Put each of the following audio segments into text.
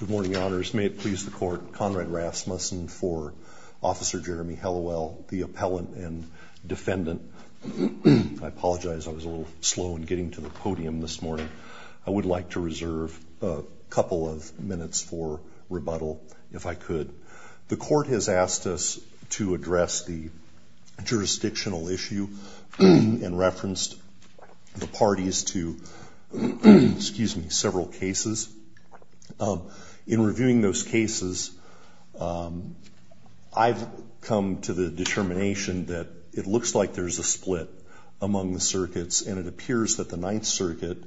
Good morning, honors. May it please the court, Conrad Rasmussen for Officer Jeremy Hellawell, the appellant and defendant. I apologize, I was a little slow in getting to the podium this morning. I would like to reserve a couple of minutes for rebuttal, if I could. The court has asked us to address the jurisdictional issue and referenced the parties to several cases. In reviewing those cases, I've come to the determination that it looks like there's a split among the circuits and it appears that the Ninth Circuit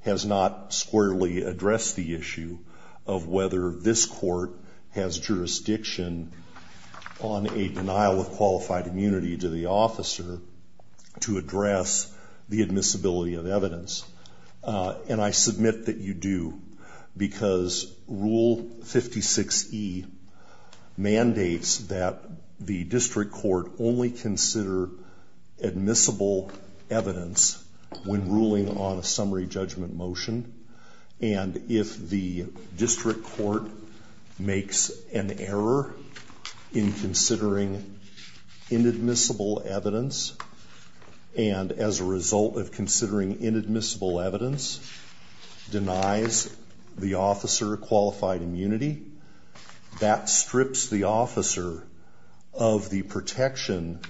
has not squarely addressed the issue of whether this court has jurisdiction on a denial of qualified immunity to the officer to address the admissibility of evidence. And I submit that you do, because Rule 56E mandates that the district court only consider admissible evidence when ruling on a summary judgment motion. And if the district court makes an error in considering inadmissible evidence, and as a result of considering inadmissible evidence, denies the officer qualified immunity, that strips the officer of the protection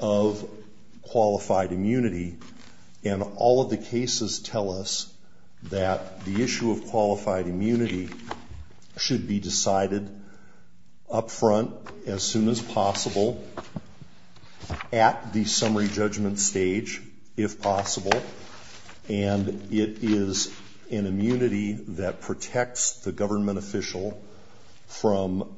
of qualified immunity. And all of the cases tell us that the issue of qualified immunity should be decided up front as soon as possible at the summary judgment stage, if possible. And it is an immunity that protects the government official from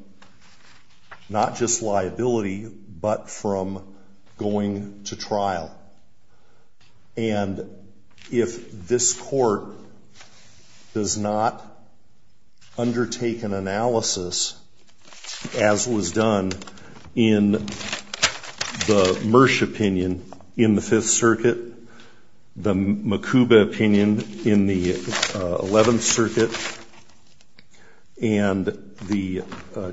not just liability, but from going to trial. And if this court does not undertake an analysis, as was done in the Mersh opinion in the Fifth Circuit, the Makuba opinion in the Eleventh Circuit, and the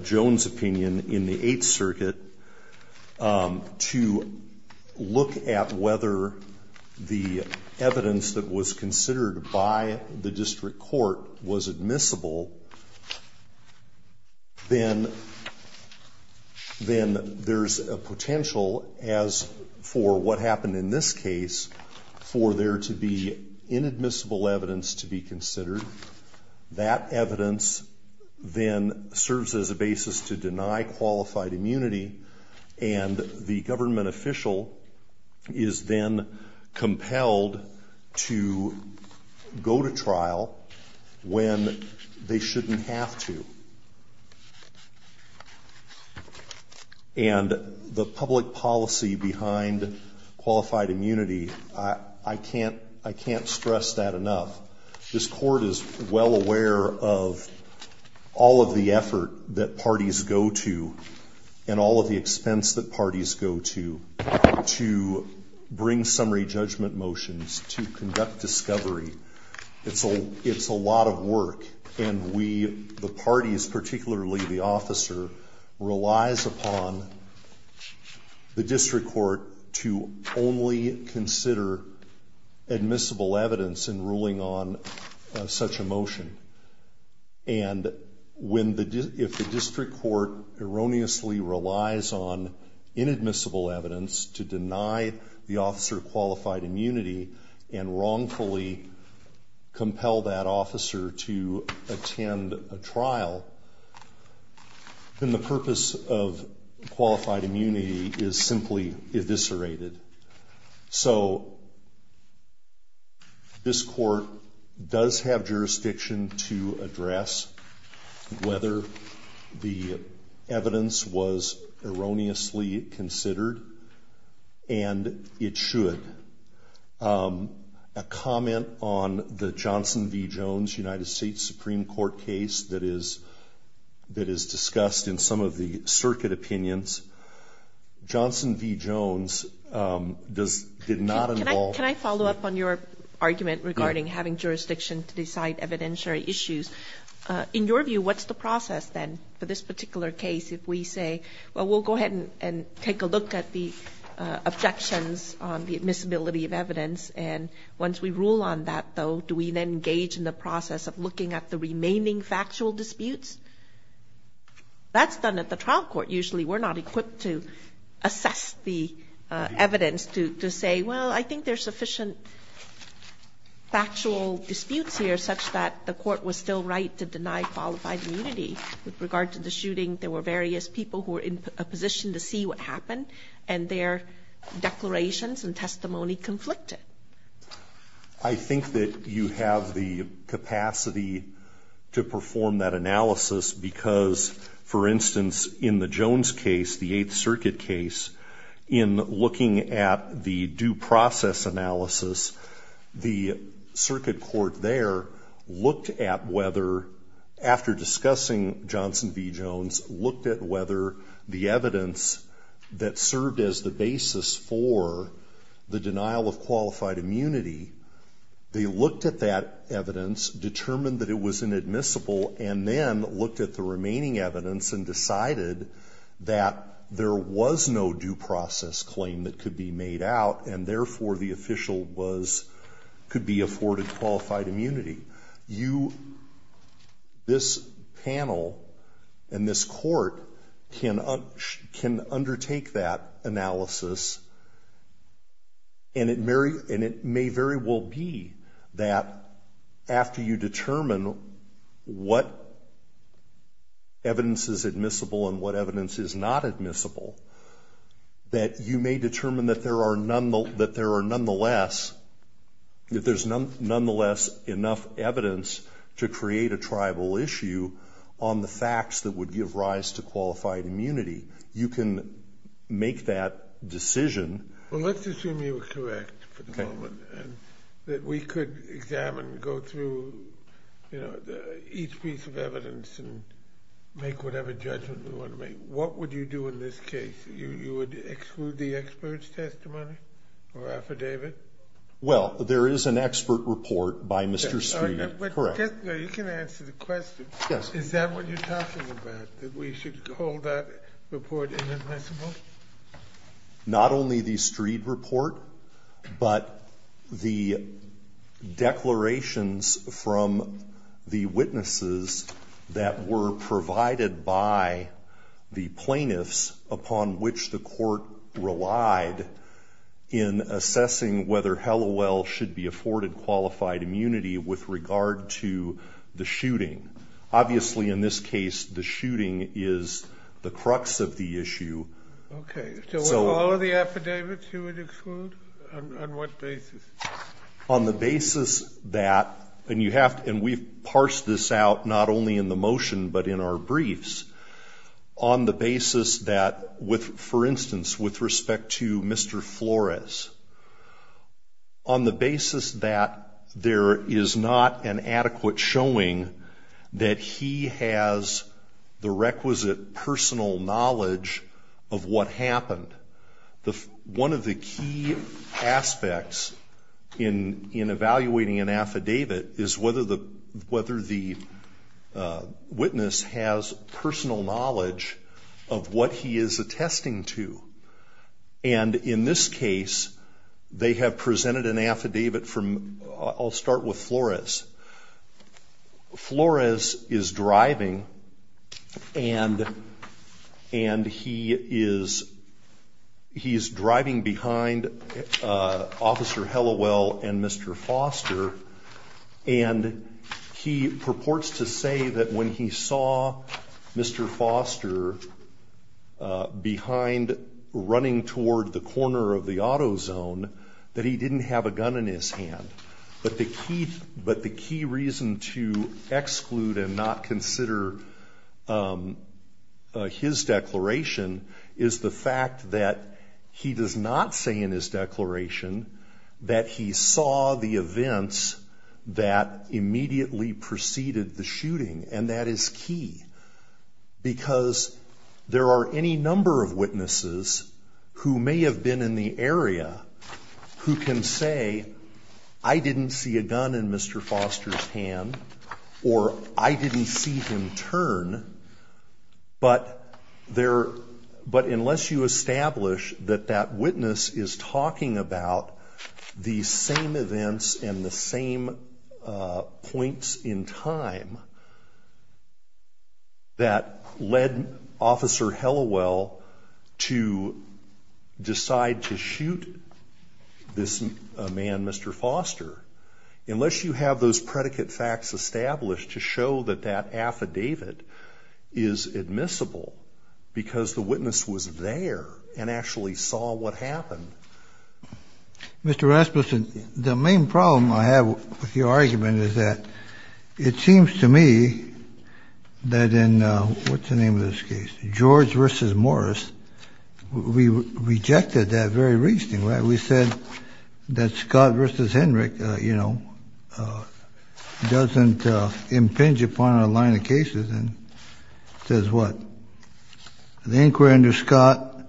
Jones opinion in the Eighth Circuit, to look at whether the evidence that was considered by the district court was admissible, then there's a potential, as for what happened in this case, for there to be inadmissible evidence to be considered. That evidence then serves as a basis to deny qualified immunity, and the government official is then compelled to go to trial when they shouldn't have to. And the public policy behind qualified immunity, I can't stress that enough. This court is well aware of all of the effort that parties go to, and all of the expense that parties go to, to bring summary judgment motions, to conduct discovery. It's a lot of work, and the parties, particularly the officer, relies upon the district court to only consider admissible evidence in ruling on such a motion. And if the district court erroneously relies on inadmissible evidence to deny the officer qualified immunity, and wrongfully compel that officer to attend a trial, then the purpose of qualified immunity is simply eviscerated. So this court does have jurisdiction to address whether the evidence was erroneously considered, and it should. A comment on the Johnson v. Jones United States Supreme Court case that is discussed in some of the circuit opinions. Johnson v. Jones did not involve... Can I follow up on your argument regarding having jurisdiction to decide evidentiary issues? In your view, what's the process then for this particular case if we say, well, we'll go ahead and take a look at the objections on the admissibility of evidence, and once we rule on that, though, do we then engage in the process of looking at the remaining factual disputes? That's done at the trial court usually. We're not equipped to assess the evidence to say, well, I think there's sufficient factual disputes here such that the court was still right to deny qualified immunity. With regard to the shooting, there were various people who were in a position to see what happened, and their declarations and testimony conflicted. I think that you have the capacity to perform that analysis because, for instance, in the Jones case, the Eighth Circuit case, in looking at the due process analysis, the circuit court there looked at whether, after discussing Johnson v. Jones, looked at whether the evidence that served as the basis for the denial of qualified immunity, they looked at that evidence, determined that it was inadmissible, and then looked at the remaining evidence and decided that there was no due process claim that could be made out, and therefore the official could be afforded qualified immunity. This panel and this court can undertake that analysis, and it may very well be that after you determine what evidence is admissible and what evidence is not admissible, that you may determine that there are nonetheless enough evidence to create a tribal issue on the facts that would give rise to qualified immunity. You can make that decision. Well, let's assume you were correct for the moment, and that we could examine and go through each piece of evidence and make whatever judgment we want to make. What would you do in this case? You would exclude the expert's testimony or affidavit? Well, there is an expert report by Mr. Streed. You can answer the question. Is that what you're talking about, that we should hold that report inadmissible? Not only the Streed report, but the declarations from the witnesses that were provided by the plaintiffs upon which the court relied in assessing whether Hallowell should be afforded qualified immunity with regard to the shooting. Obviously, in this case, the shooting is the crux of the issue. Okay. So with all of the affidavits, you would exclude? On what basis? On the basis that, and we've parsed this out not only in the motion but in our briefs, on the basis that, for instance, with respect to Mr. Flores, on the basis that there is not an adequate showing that he has the requisite personal knowledge of what happened. One of the key aspects in evaluating an affidavit is whether the witness has personal knowledge of what he is attesting to. And in this case, they have presented an affidavit from, I'll start with Flores. Flores is driving, and he is driving behind Officer Hallowell and Mr. Foster, and he purports to say that when he saw Mr. Foster behind, running toward the corner of the auto zone, that he didn't have a gun in his hand. But the key reason to exclude and not consider his declaration is the fact that he does not say in his declaration that he saw the events that immediately preceded the shooting, and that is key. Because there are any number of witnesses who may have been in the area who can say, I didn't see a gun in Mr. Foster's hand, or I didn't see him turn, but unless you establish that that witness is talking about the same events and the same points in time that led Officer Hallowell to decide to shoot this man, Mr. Foster, unless you have those predicate facts established to show that that affidavit is admissible because the witness was there and actually saw what happened. Mr. Rasmussen, the main problem I have with your argument is that it seems to me that in, what's the name of this case, George v. Morris, we rejected that very reasoning, right? We said that Scott v. Hendrick, you know, doesn't impinge upon our line of cases and says what? The inquiry under Scott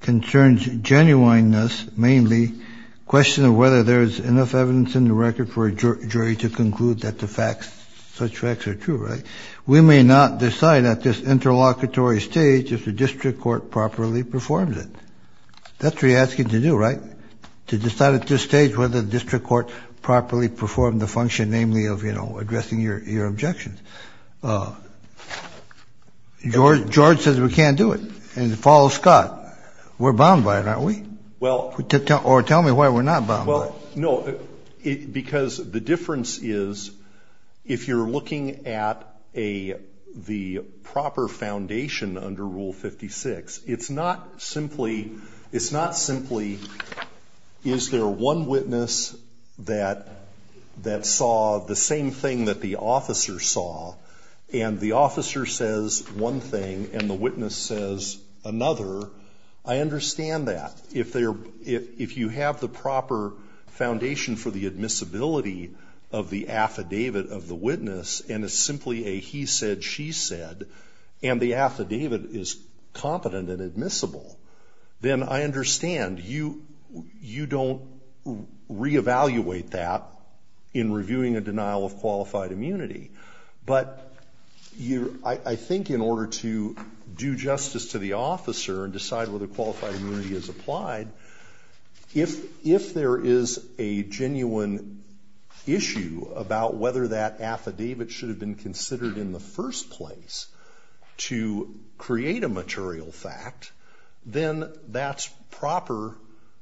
concerns genuineness mainly, question of whether there is enough evidence in the record for a jury to conclude that the facts, such facts are true, right? We may not decide at this interlocutory stage if the district court properly performs it. That's what you're asking to do, right? To decide at this stage whether the district court properly performed the function, namely, of, you know, addressing your objections. George says we can't do it and follows Scott. We're bound by it, aren't we? Or tell me why we're not bound by it. No, because the difference is if you're looking at the proper foundation under Rule 56, it's not simply is there one witness that saw the same thing that the officer saw and the officer says one thing and the witness says another, I understand that. If you have the proper foundation for the admissibility of the affidavit of the witness and it's simply a he said, she said, and the affidavit is competent and admissible, then I understand you don't reevaluate that in reviewing a denial of qualified immunity. But I think in order to do justice to the officer and decide whether qualified immunity is applied, if there is a genuine issue about whether that affidavit should have been considered in the first place to create a material fact, then that's proper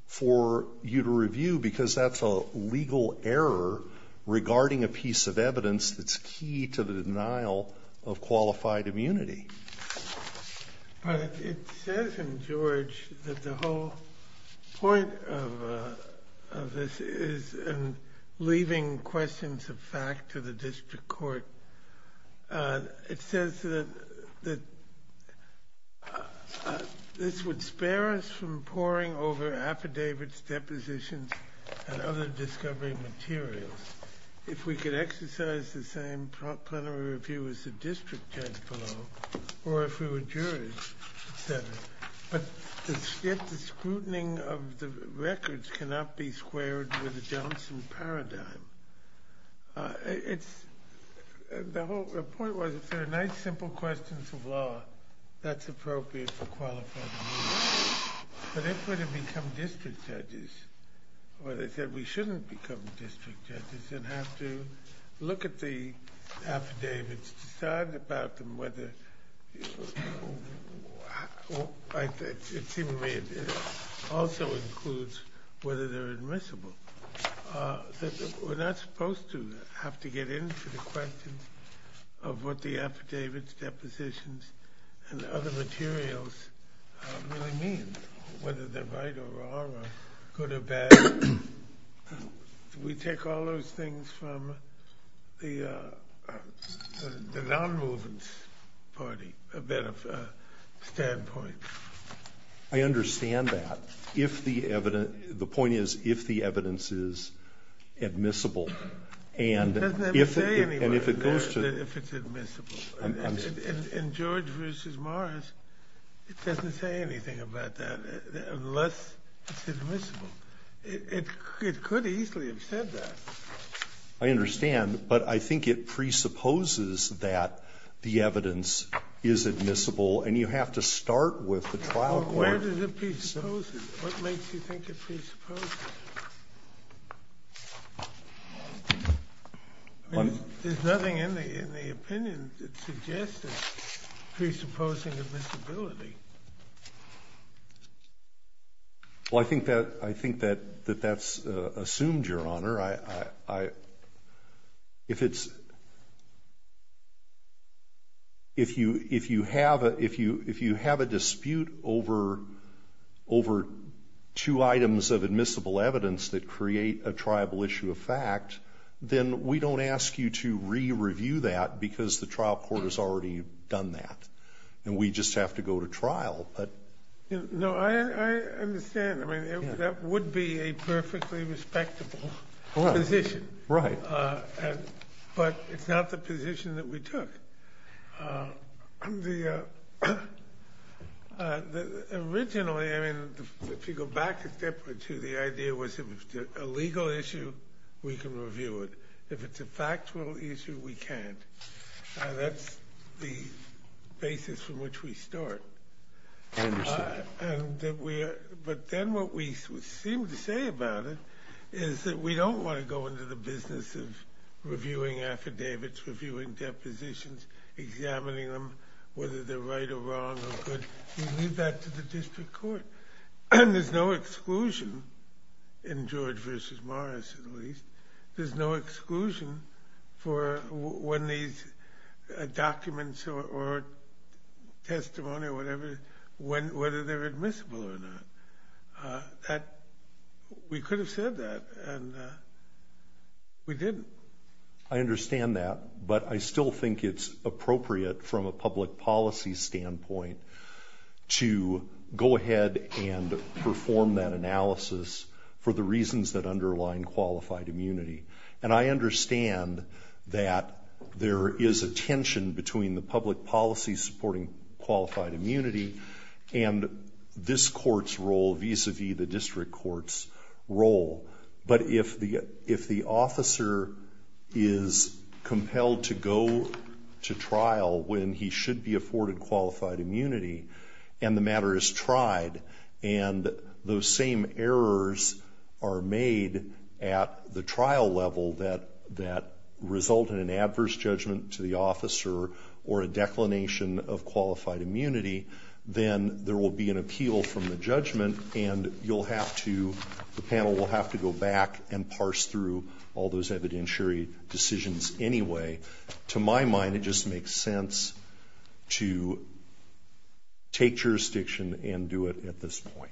for you to review because that's a legal error regarding a piece of evidence that's key to the denial of qualified immunity. But it says in George that the whole point of this is in leaving questions of fact to the district court. It says that this would spare us from poring over affidavits, depositions, and other discovery materials. If we could exercise the same plenary review as the district judge below or if we were jurors, etc. But the scrutiny of the records cannot be squared with the Johnson paradigm. The whole point was if there are nice simple questions of law, that's appropriate for qualified immunity. But if we're to become district judges, or they said we shouldn't become district judges and have to look at the affidavits, decide about them, it also includes whether they're admissible, that we're not supposed to have to get into the questions of what the affidavits, depositions, and other materials really mean, whether they're right or wrong or good or bad. We take all those things from the non-movement party standpoint. I understand that. The point is if the evidence is admissible. It doesn't say anything about that, if it's admissible. In George v. Morris, it doesn't say anything about that unless it's admissible. It could easily have said that. I understand, but I think it presupposes that the evidence is admissible, and you have to start with the trial court. Where does it presuppose it? What makes you think it presupposes it? There's nothing in the opinion that suggests it presupposing admissibility. Well, I think that that's assumed, Your Honor. If you have a dispute over two items of admissible evidence that create a triable issue of fact, then we don't ask you to re-review that because the trial court has already done that, and we just have to go to trial. No, I understand. That would be a perfectly respectable position. Right. But it's not the position that we took. Originally, if you go back a step or two, the idea was if it's a legal issue, we can review it. If it's a factual issue, we can't. That's the basis from which we start. I understand. But then what we seem to say about it is that we don't want to go into the business of reviewing affidavits, reviewing depositions, examining them, whether they're right or wrong or good. We leave that to the district court. And there's no exclusion in George v. Morris, at least. There's no exclusion for when these documents or testimony or whatever, whether they're admissible or not. We could have said that, and we didn't. I understand that, but I still think it's appropriate from a public policy standpoint to go ahead and perform that analysis for the reasons that underline qualified immunity. And I understand that there is a tension between the public policy supporting qualified immunity and this court's role vis-a-vis the district court's role. But if the officer is compelled to go to trial when he should be afforded qualified immunity and the matter is tried and those same errors are made at the trial level that result in an adverse judgment to the officer or a declination of qualified immunity, then there will be an appeal from the judgment, and the panel will have to go back and parse through all those evidentiary decisions anyway. To my mind, it just makes sense to take jurisdiction and do it at this point.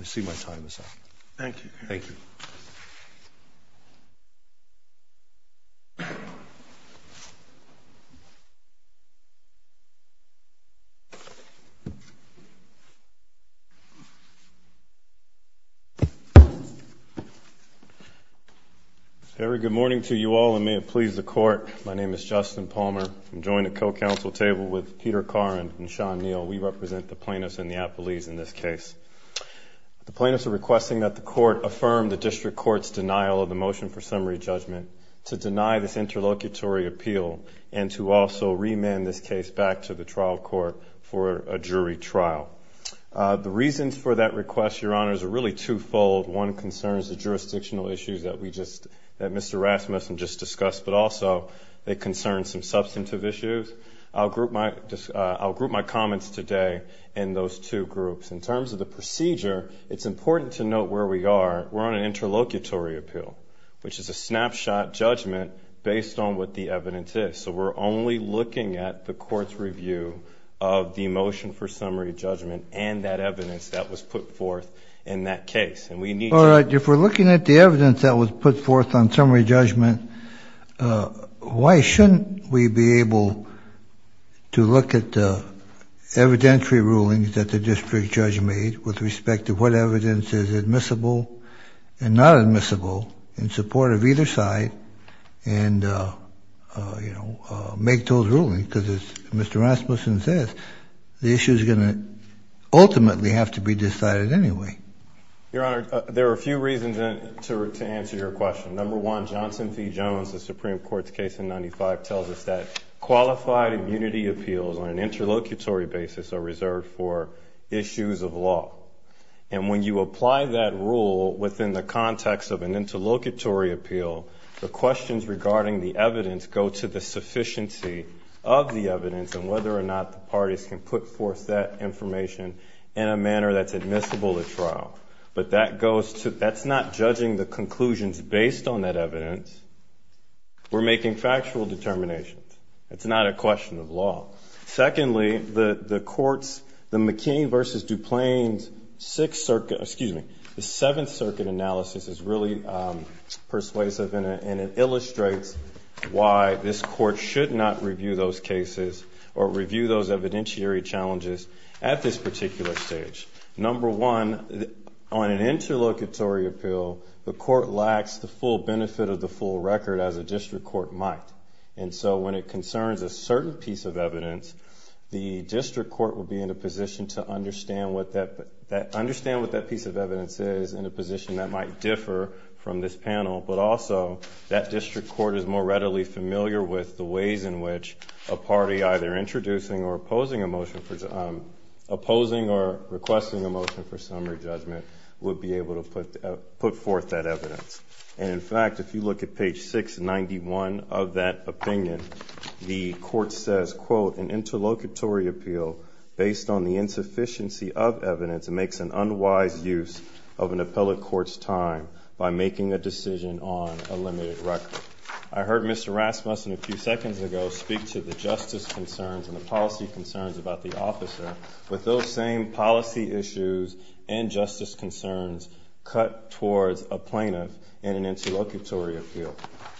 I see my time is up. Thank you. Thank you. Thank you. Very good morning to you all, and may it please the Court. My name is Justin Palmer. I'm joined at co-counsel table with Peter Caron and Sean Neal. We represent the plaintiffs in the appellees in this case. The plaintiffs are requesting that the Court affirm the district court's denial of the motion for summary judgment to deny this interlocutory appeal and to also remand this case back to the trial court for a jury trial. The reasons for that request, Your Honors, are really twofold. One concerns the jurisdictional issues that Mr. Rasmussen just discussed, but also they concern some substantive issues. I'll group my comments today in those two groups. In terms of the procedure, it's important to note where we are. We're on an interlocutory appeal, which is a snapshot judgment based on what the evidence is. So we're only looking at the court's review of the motion for summary judgment and that evidence that was put forth in that case. If we're looking at the evidence that was put forth on summary judgment, why shouldn't we be able to look at the evidentiary rulings that the district judge made with respect to what evidence is admissible and not admissible in support of either side and, you know, make those rulings? Because as Mr. Rasmussen says, the issue is going to ultimately have to be decided anyway. Your Honor, there are a few reasons to answer your question. Number one, Johnson v. Jones, the Supreme Court's case in 95, tells us that qualified immunity appeals on an interlocutory basis are reserved for issues of law. And when you apply that rule within the context of an interlocutory appeal, the questions regarding the evidence go to the sufficiency of the evidence and whether or not the parties can put forth that information in a manner that's admissible at trial. But that's not judging the conclusions based on that evidence. We're making factual determinations. It's not a question of law. Secondly, the court's, the McKean v. DuPlein's Sixth Circuit, excuse me, the Seventh Circuit analysis is really persuasive in it and it illustrates why this court should not review those cases or review those evidentiary challenges at this particular stage. Number one, on an interlocutory appeal, the court lacks the full benefit of the full record as a district court might. And so when it concerns a certain piece of evidence, the district court will be in a position to understand what that piece of evidence is in a position that might differ from this panel. But also, that district court is more readily familiar with the ways in which a party, either introducing or opposing a motion for, opposing or requesting a motion for summary judgment, would be able to put forth that evidence. And in fact, if you look at page 691 of that opinion, the court says, quote, an interlocutory appeal based on the insufficiency of evidence makes an unwise use of an appellate court's time by making a decision on a limited record. I heard Mr. Rasmussen a few seconds ago speak to the justice concerns and the policy concerns about the officer with those same policy issues and justice concerns cut towards a plaintiff in an interlocutory appeal.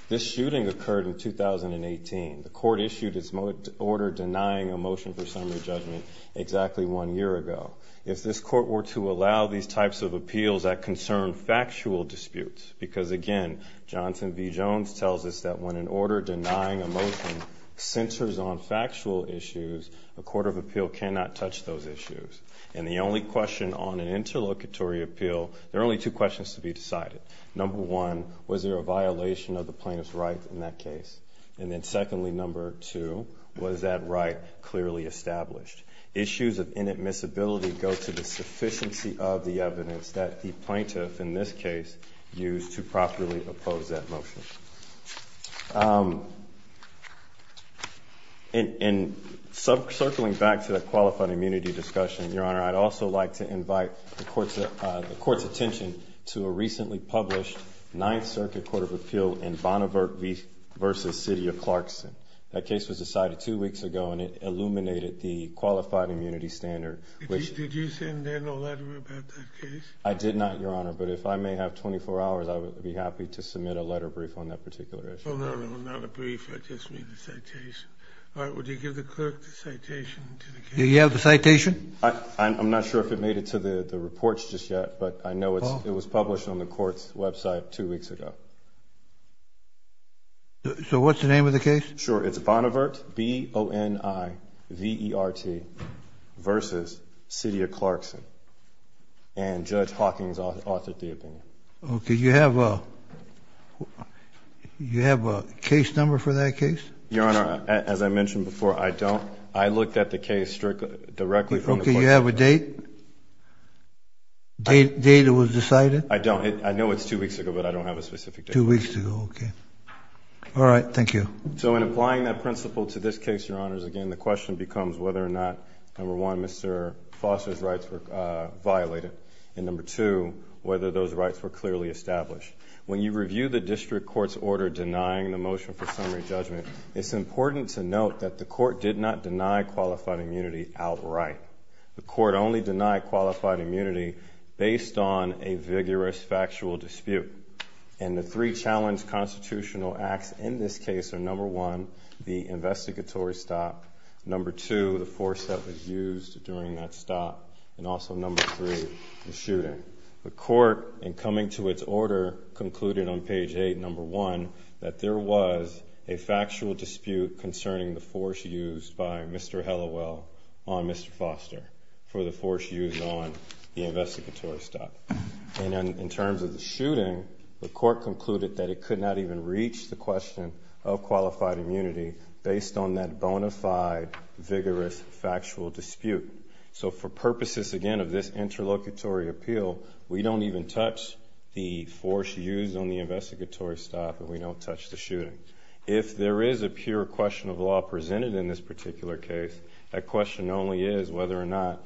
This shooting occurred in 2018. The court issued its order denying a motion for summary judgment exactly one year ago. If this court were to allow these types of appeals that concern factual disputes, because again, Johnson v. Jones tells us that when an order denying a motion centers on factual issues, a court of appeal cannot touch those issues. And the only question on an interlocutory appeal, there are only two questions to be decided. Number one, was there a violation of the plaintiff's right in that case? And then secondly, number two, was that right clearly established? Issues of inadmissibility go to the sufficiency of the evidence that the plaintiff, in this case, used to properly oppose that motion. And circling back to the qualified immunity discussion, Your Honor, I'd also like to invite the court's attention to a recently published Ninth Circuit Court of Appeal in Bonneverk v. City of Clarkston. That case was decided two weeks ago, and it illuminated the qualified immunity standard. Did you send in a letter about that case? I did not, Your Honor. But if I may have 24 hours, I would be happy to submit a letter brief on that particular issue. Oh, no, no, not a brief. I just mean the citation. All right, would you give the clerk the citation to the case? Do you have the citation? I'm not sure if it made it to the reports just yet, but I know it was published on the court's website two weeks ago. So what's the name of the case? Sure, it's Bonneverk, B-O-N-I-V-E-R-T, v. City of Clarkston. And Judge Hawkins authored the opinion. Okay, you have a case number for that case? Your Honor, as I mentioned before, I don't. I looked at the case directly from the court's website. Okay, you have a date? Date it was decided? I don't. I know it's two weeks ago, but I don't have a specific date. Two weeks ago, okay. All right, thank you. So in applying that principle to this case, Your Honors, again, the question becomes whether or not, number one, Mr. Foster's rights were violated, and number two, whether those rights were clearly established. When you review the district court's order denying the motion for summary judgment, it's important to note that the court did not deny qualified immunity outright. The court only denied qualified immunity based on a vigorous factual dispute, and the three challenged constitutional acts in this case are, number one, the investigatory stop, number two, the force that was used during that stop, and also number three, the shooting. The court, in coming to its order, concluded on page eight, number one, that there was a factual dispute concerning the force used by Mr. Hallowell on Mr. Foster, for the force used on the investigatory stop. And in terms of the shooting, the court concluded that it could not even reach the question of qualified immunity based on that bona fide, vigorous, factual dispute. So for purposes, again, of this interlocutory appeal, we don't even touch the force used on the investigatory stop, and we don't touch the shooting. If there is a pure question of law presented in this particular case, that question only is whether or not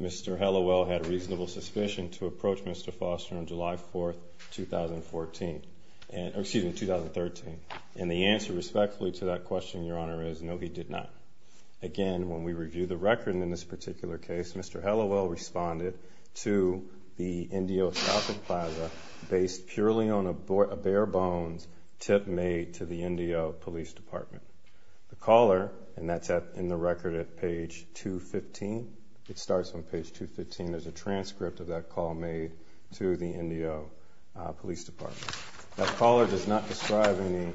Mr. Hallowell had reasonable suspicion to approach Mr. Foster on July 4, 2013. And the answer, respectfully, to that question, Your Honor, is no, he did not. Again, when we review the record in this particular case, Mr. Hallowell responded to the NDO shopping plaza based purely on a bare bones tip made to the NDO police department. The caller, and that's in the record at page 215, it starts on page 215, there's a transcript of that call made to the NDO police department. That caller does not describe any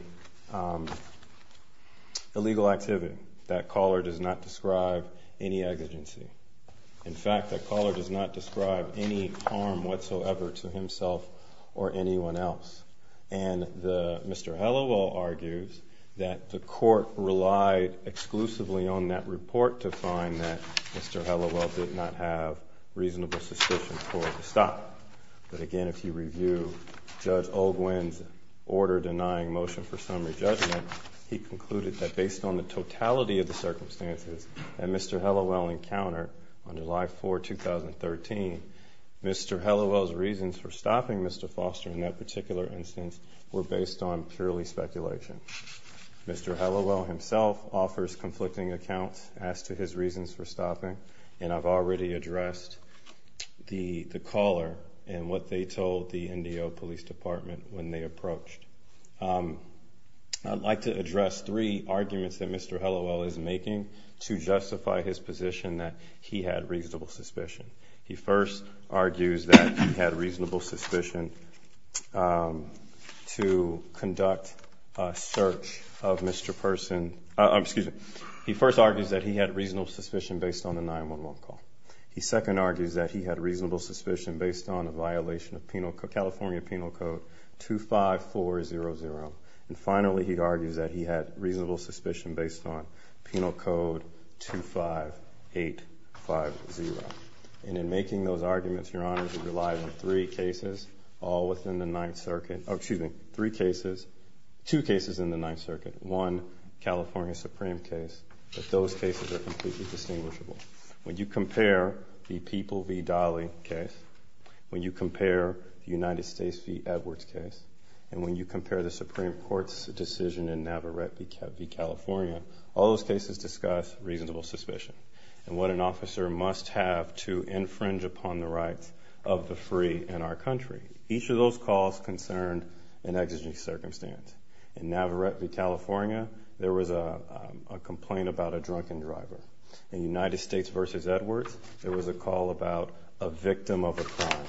illegal activity. That caller does not describe any exigency. In fact, that caller does not describe any harm whatsoever to himself or anyone else. And Mr. Hallowell argues that the court relied exclusively on that report to find that Mr. Hallowell did not have reasonable suspicion for the stop. But again, if you review Judge Olguin's order denying motion for summary judgment, he concluded that based on the totality of the circumstances that Mr. Hallowell encountered on July 4, 2013, Mr. Hallowell's reasons for stopping Mr. Foster in that particular instance were based on purely speculation. Mr. Hallowell himself offers conflicting accounts as to his reasons for stopping, and I've already addressed the caller and what they told the NDO police department when they approached. I'd like to address three arguments that Mr. Hallowell is making to justify his position that he had reasonable suspicion. He first argues that he had reasonable suspicion to conduct a search of Mr. Person. He first argues that he had reasonable suspicion based on the 9-1-1 call. He second argues that he had reasonable suspicion based on a violation of California Penal Code 25400. And finally, he argues that he had reasonable suspicion based on Penal Code 25850. And in making those arguments, Your Honors, he relied on three cases, all within the Ninth Circuit. Oh, excuse me, three cases, two cases in the Ninth Circuit. One, California Supreme case, but those cases are completely distinguishable. When you compare the People v. Dolly case, when you compare the United States v. Edwards case, and when you compare the Supreme Court's decision in Navarrete v. California, all those cases discuss reasonable suspicion and what an officer must have to infringe upon the rights of the free in our country. Each of those calls concerned an exigent circumstance. In Navarrete v. California, there was a complaint about a drunken driver. In United States v. Edwards, there was a call about a victim of a crime.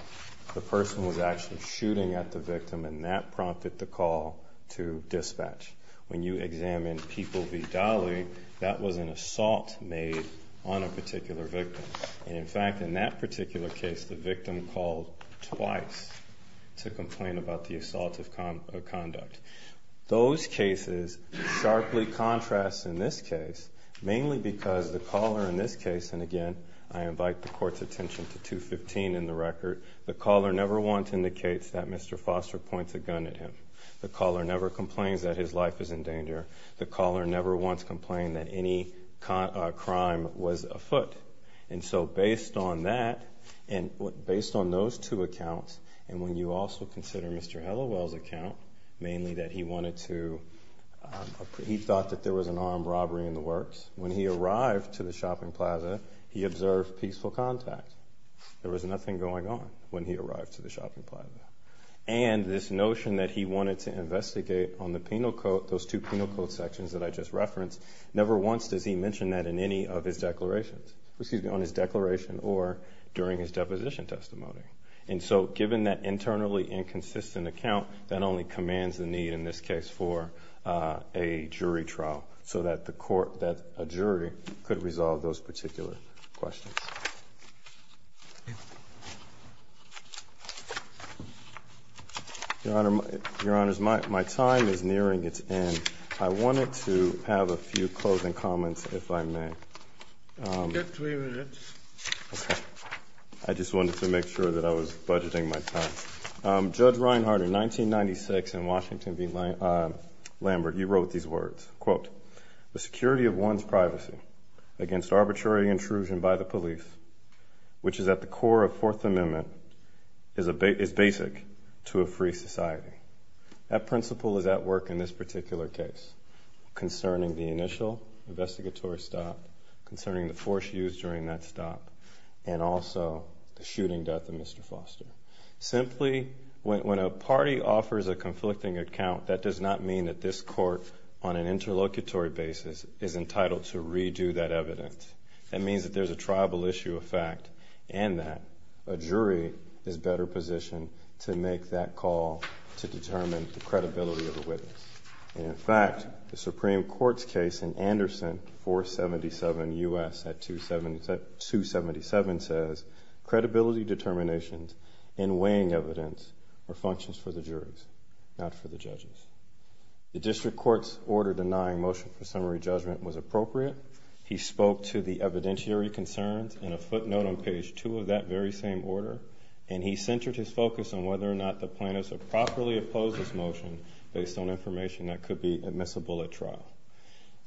The person was actually shooting at the victim, and that prompted the call to dispatch. When you examine People v. Dolly, that was an assault made on a particular victim. And in fact, in that particular case, the victim called twice to complain about the assault of conduct. Those cases sharply contrast in this case, mainly because the caller in this case, and again, I invite the Court's attention to 215 in the record, the caller never once indicates that Mr. Foster points a gun at him. The caller never complains that his life is in danger. The caller never once complained that any crime was afoot. And so based on that, and based on those two accounts, and when you also consider Mr. Hallowell's account, mainly that he wanted to, he thought that there was an armed robbery in the works. When he arrived to the shopping plaza, he observed peaceful contact. There was nothing going on when he arrived to the shopping plaza. And this notion that he wanted to investigate on the penal code, those two penal code sections that I just referenced, never once does he mention that in any of his declarations, on his declaration or during his deposition testimony. And so given that internally inconsistent account, that only commands the need in this case for a jury trial, so that a jury could resolve those particular questions. Your Honor, my time is nearing its end. I wanted to have a few closing comments, if I may. You have three minutes. Okay. I just wanted to make sure that I was budgeting my time. Judge Reinhardt, in 1996 in Washington v. Lambert, you wrote these words, quote, the security of one's privacy against arbitrary intrusion by the police, which is at the core of Fourth Amendment, is basic to a free society. That principle is at work in this particular case, concerning the initial investigatory stop, concerning the force used during that stop, and also the shooting death of Mr. Foster. Simply, when a party offers a conflicting account, that does not mean that this court, on an interlocutory basis, is entitled to redo that evidence. That means that there's a tribal issue of fact, and that a jury is better positioned to make that call to determine the credibility of a witness. And in fact, the Supreme Court's case in Anderson, 477 U.S. at 277 says, credibility determinations and weighing evidence are functions for the juries, not for the judges. The district court's order denying motion for summary judgment was appropriate. He spoke to the evidentiary concerns in a footnote on page two of that very same order, and he centered his focus on whether or not the plaintiffs have properly opposed this motion based on information that could be admissible at trial.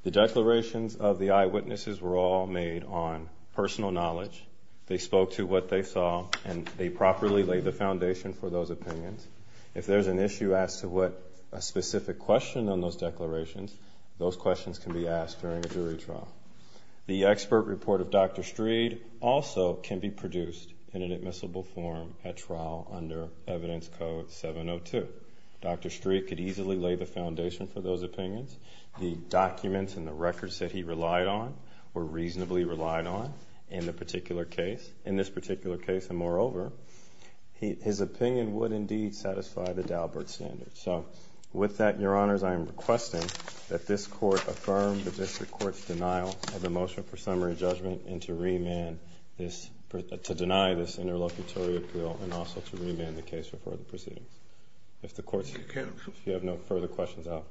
The declarations of the eyewitnesses were all made on personal knowledge. They spoke to what they saw, and they properly laid the foundation for those opinions. If there's an issue as to what a specific question on those declarations, those questions can be asked during a jury trial. The expert report of Dr. Street also can be produced in an admissible form at trial under Evidence Code 702. Dr. Street could easily lay the foundation for those opinions. The documents and the records that he relied on were reasonably relied on in this particular case, and moreover, his opinion would indeed satisfy the Daubert standard. So with that, Your Honors, I am requesting that this court affirm the district court's denial of the motion for summary judgment and to deny this interlocutory appeal and also to remand the case for further proceedings. If you have no further questions, I'll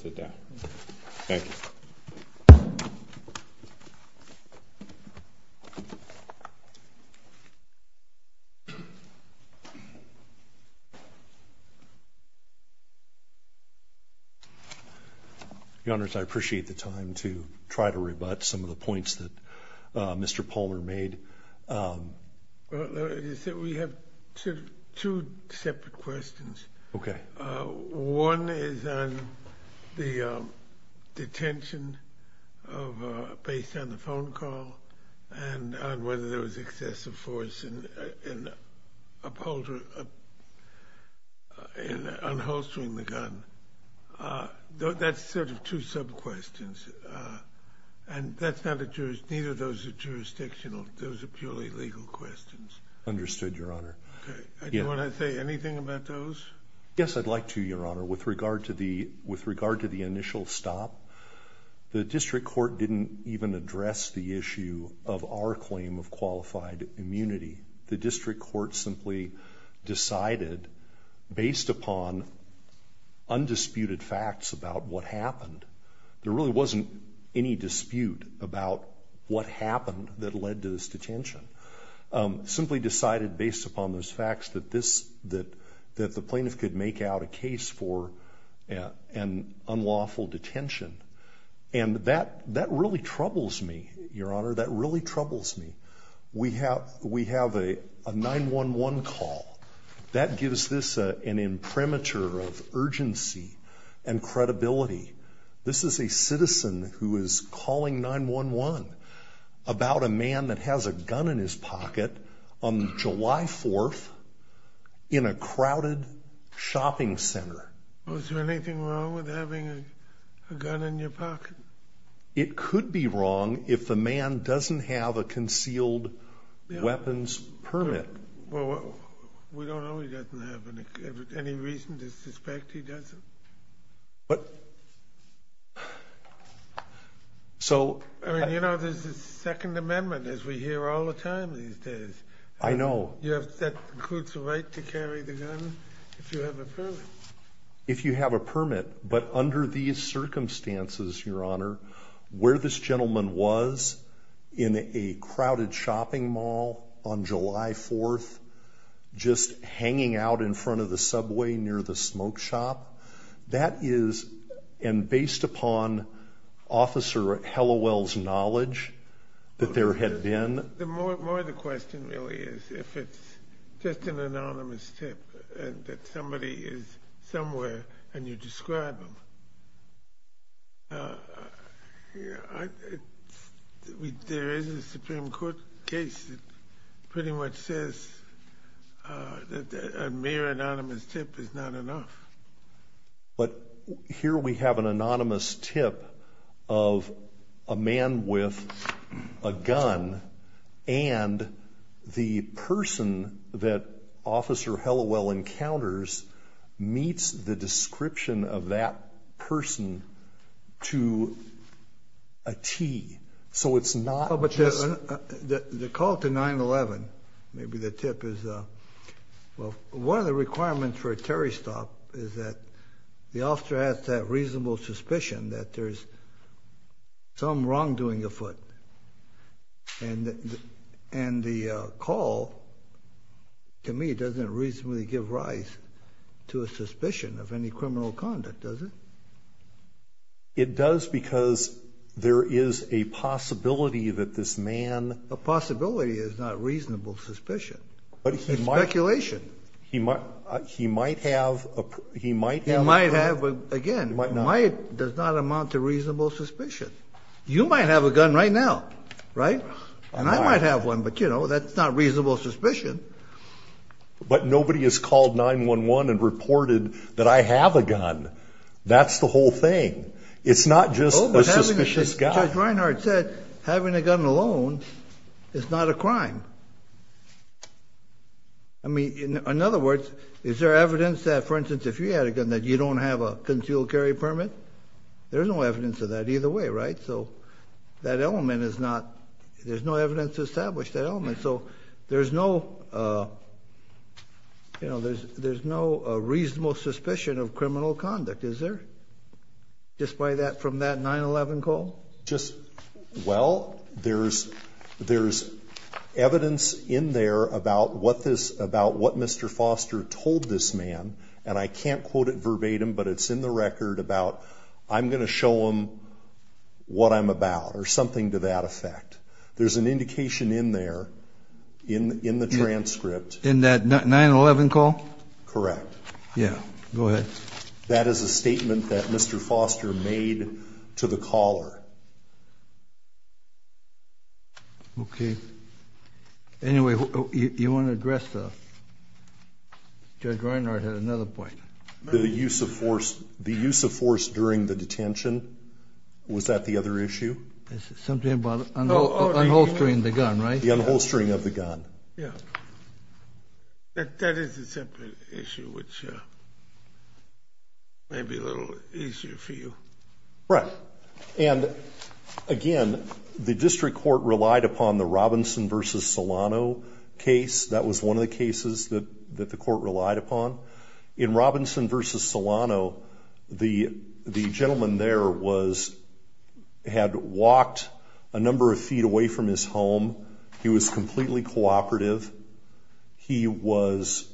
sit down. Thank you. Your Honors, I appreciate the time to try to rebut some of the points that Mr. Palmer made. We have two separate questions. Okay. One is on the detention based on the phone call and on whether there was excessive force in upholstering the gun. That's sort of two sub-questions, and neither of those are jurisdictional. Those are purely legal questions. Understood, Your Honor. Okay. Do you want to say anything about those? Yes, I'd like to, Your Honor. With regard to the initial stop, the district court didn't even address the issue of our claim of qualified immunity. The district court simply decided based upon undisputed facts about what happened. There really wasn't any dispute about what happened that led to this detention. Simply decided based upon those facts that the plaintiff could make out a case for an unlawful detention. And that really troubles me, Your Honor. That really troubles me. We have a 911 call. That gives this an imprimatur of urgency and credibility. This is a citizen who is calling 911 about a man that has a gun in his pocket on July 4th in a crowded shopping center. Was there anything wrong with having a gun in your pocket? It could be wrong if the man doesn't have a concealed weapons permit. We don't know he doesn't have any reason to suspect he doesn't. But... So... I mean, you know, there's a Second Amendment, as we hear all the time these days. I know. That includes the right to carry the gun if you have a permit. If you have a permit. But under these circumstances, Your Honor, where this gentleman was in a crowded shopping mall on July 4th, just hanging out in front of the subway near the smoke shop, that is, and based upon Officer Hallowell's knowledge that there had been... More the question really is if it's just an anonymous tip and that somebody is somewhere and you describe them. There is a Supreme Court case that pretty much says that a mere anonymous tip is not enough. But here we have an anonymous tip of a man with a gun and the person that Officer Hallowell encounters meets the description of that person to a tee. So it's not... But the call to 9-11, maybe the tip is... Well, one of the requirements for a Terry stop is that the officer has that reasonable suspicion that there's some wrongdoing afoot. And the call, to me, doesn't reasonably give rise to a suspicion of any criminal conduct, does it? It does because there is a possibility that this man... A possibility is not reasonable suspicion. It's speculation. He might have... He might have, again, might does not amount to reasonable suspicion. You might have a gun right now, right? And I might have one, but, you know, that's not reasonable suspicion. But nobody has called 9-11 and reported that I have a gun. That's the whole thing. It's not just a suspicious guy. Judge Reinhardt said having a gun alone is not a crime. I mean, in other words, is there evidence that, for instance, if you had a gun, that you don't have a concealed carry permit? There's no evidence of that either way, right? So that element is not... There's no evidence to establish that element. So there's no, you know, there's no reasonable suspicion of criminal conduct, is there? Despite that, from that 9-11 call? Just... Well, there's evidence in there about what this... I'm going to show them what I'm about, or something to that effect. There's an indication in there, in the transcript... In that 9-11 call? Correct. Yeah, go ahead. That is a statement that Mr. Foster made to the caller. Okay. Anyway, you want to address the... Judge Reinhardt had another point. The use of force during the detention. Was that the other issue? Something about unholstering the gun, right? The unholstering of the gun. Yeah. That is a separate issue, which may be a little easier for you. Right. And, again, the district court relied upon the Robinson v. Solano case. That was one of the cases that the court relied upon. In Robinson v. Solano, the gentleman there was... Had walked a number of feet away from his home. He was completely cooperative. He was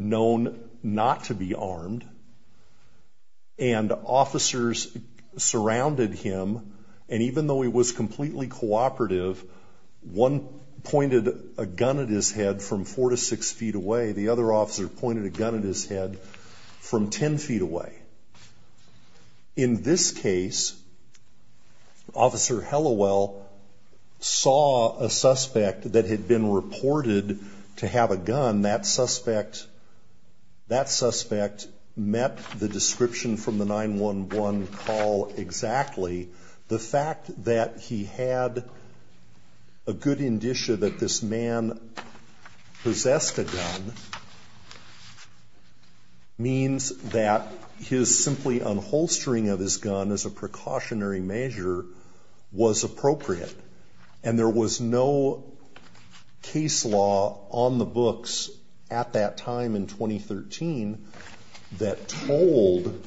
known not to be armed. And officers surrounded him. And even though he was completely cooperative, one pointed a gun at his head from four to six feet away. The other officer pointed a gun at his head from ten feet away. In this case, Officer Hallowell saw a suspect that had been reported to have a gun. That suspect met the description from the 911 call exactly. The fact that he had a good indicia that this man possessed a gun means that his simply unholstering of his gun as a precautionary measure was appropriate. And there was no case law on the books at that time in 2013 that told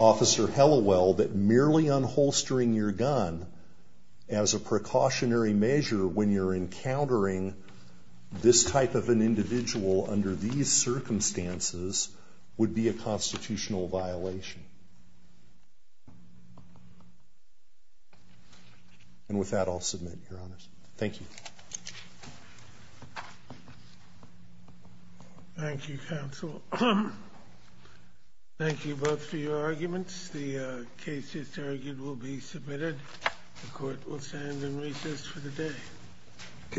Officer Hallowell that merely unholstering your gun as a precautionary measure when you're encountering this type of an individual under these circumstances would be a constitutional violation. And with that, I'll submit, Your Honors. Thank you. Thank you, Counsel. Thank you both for your arguments. The case is argued will be submitted. The court will stand in recess for the day. Okay. All rise.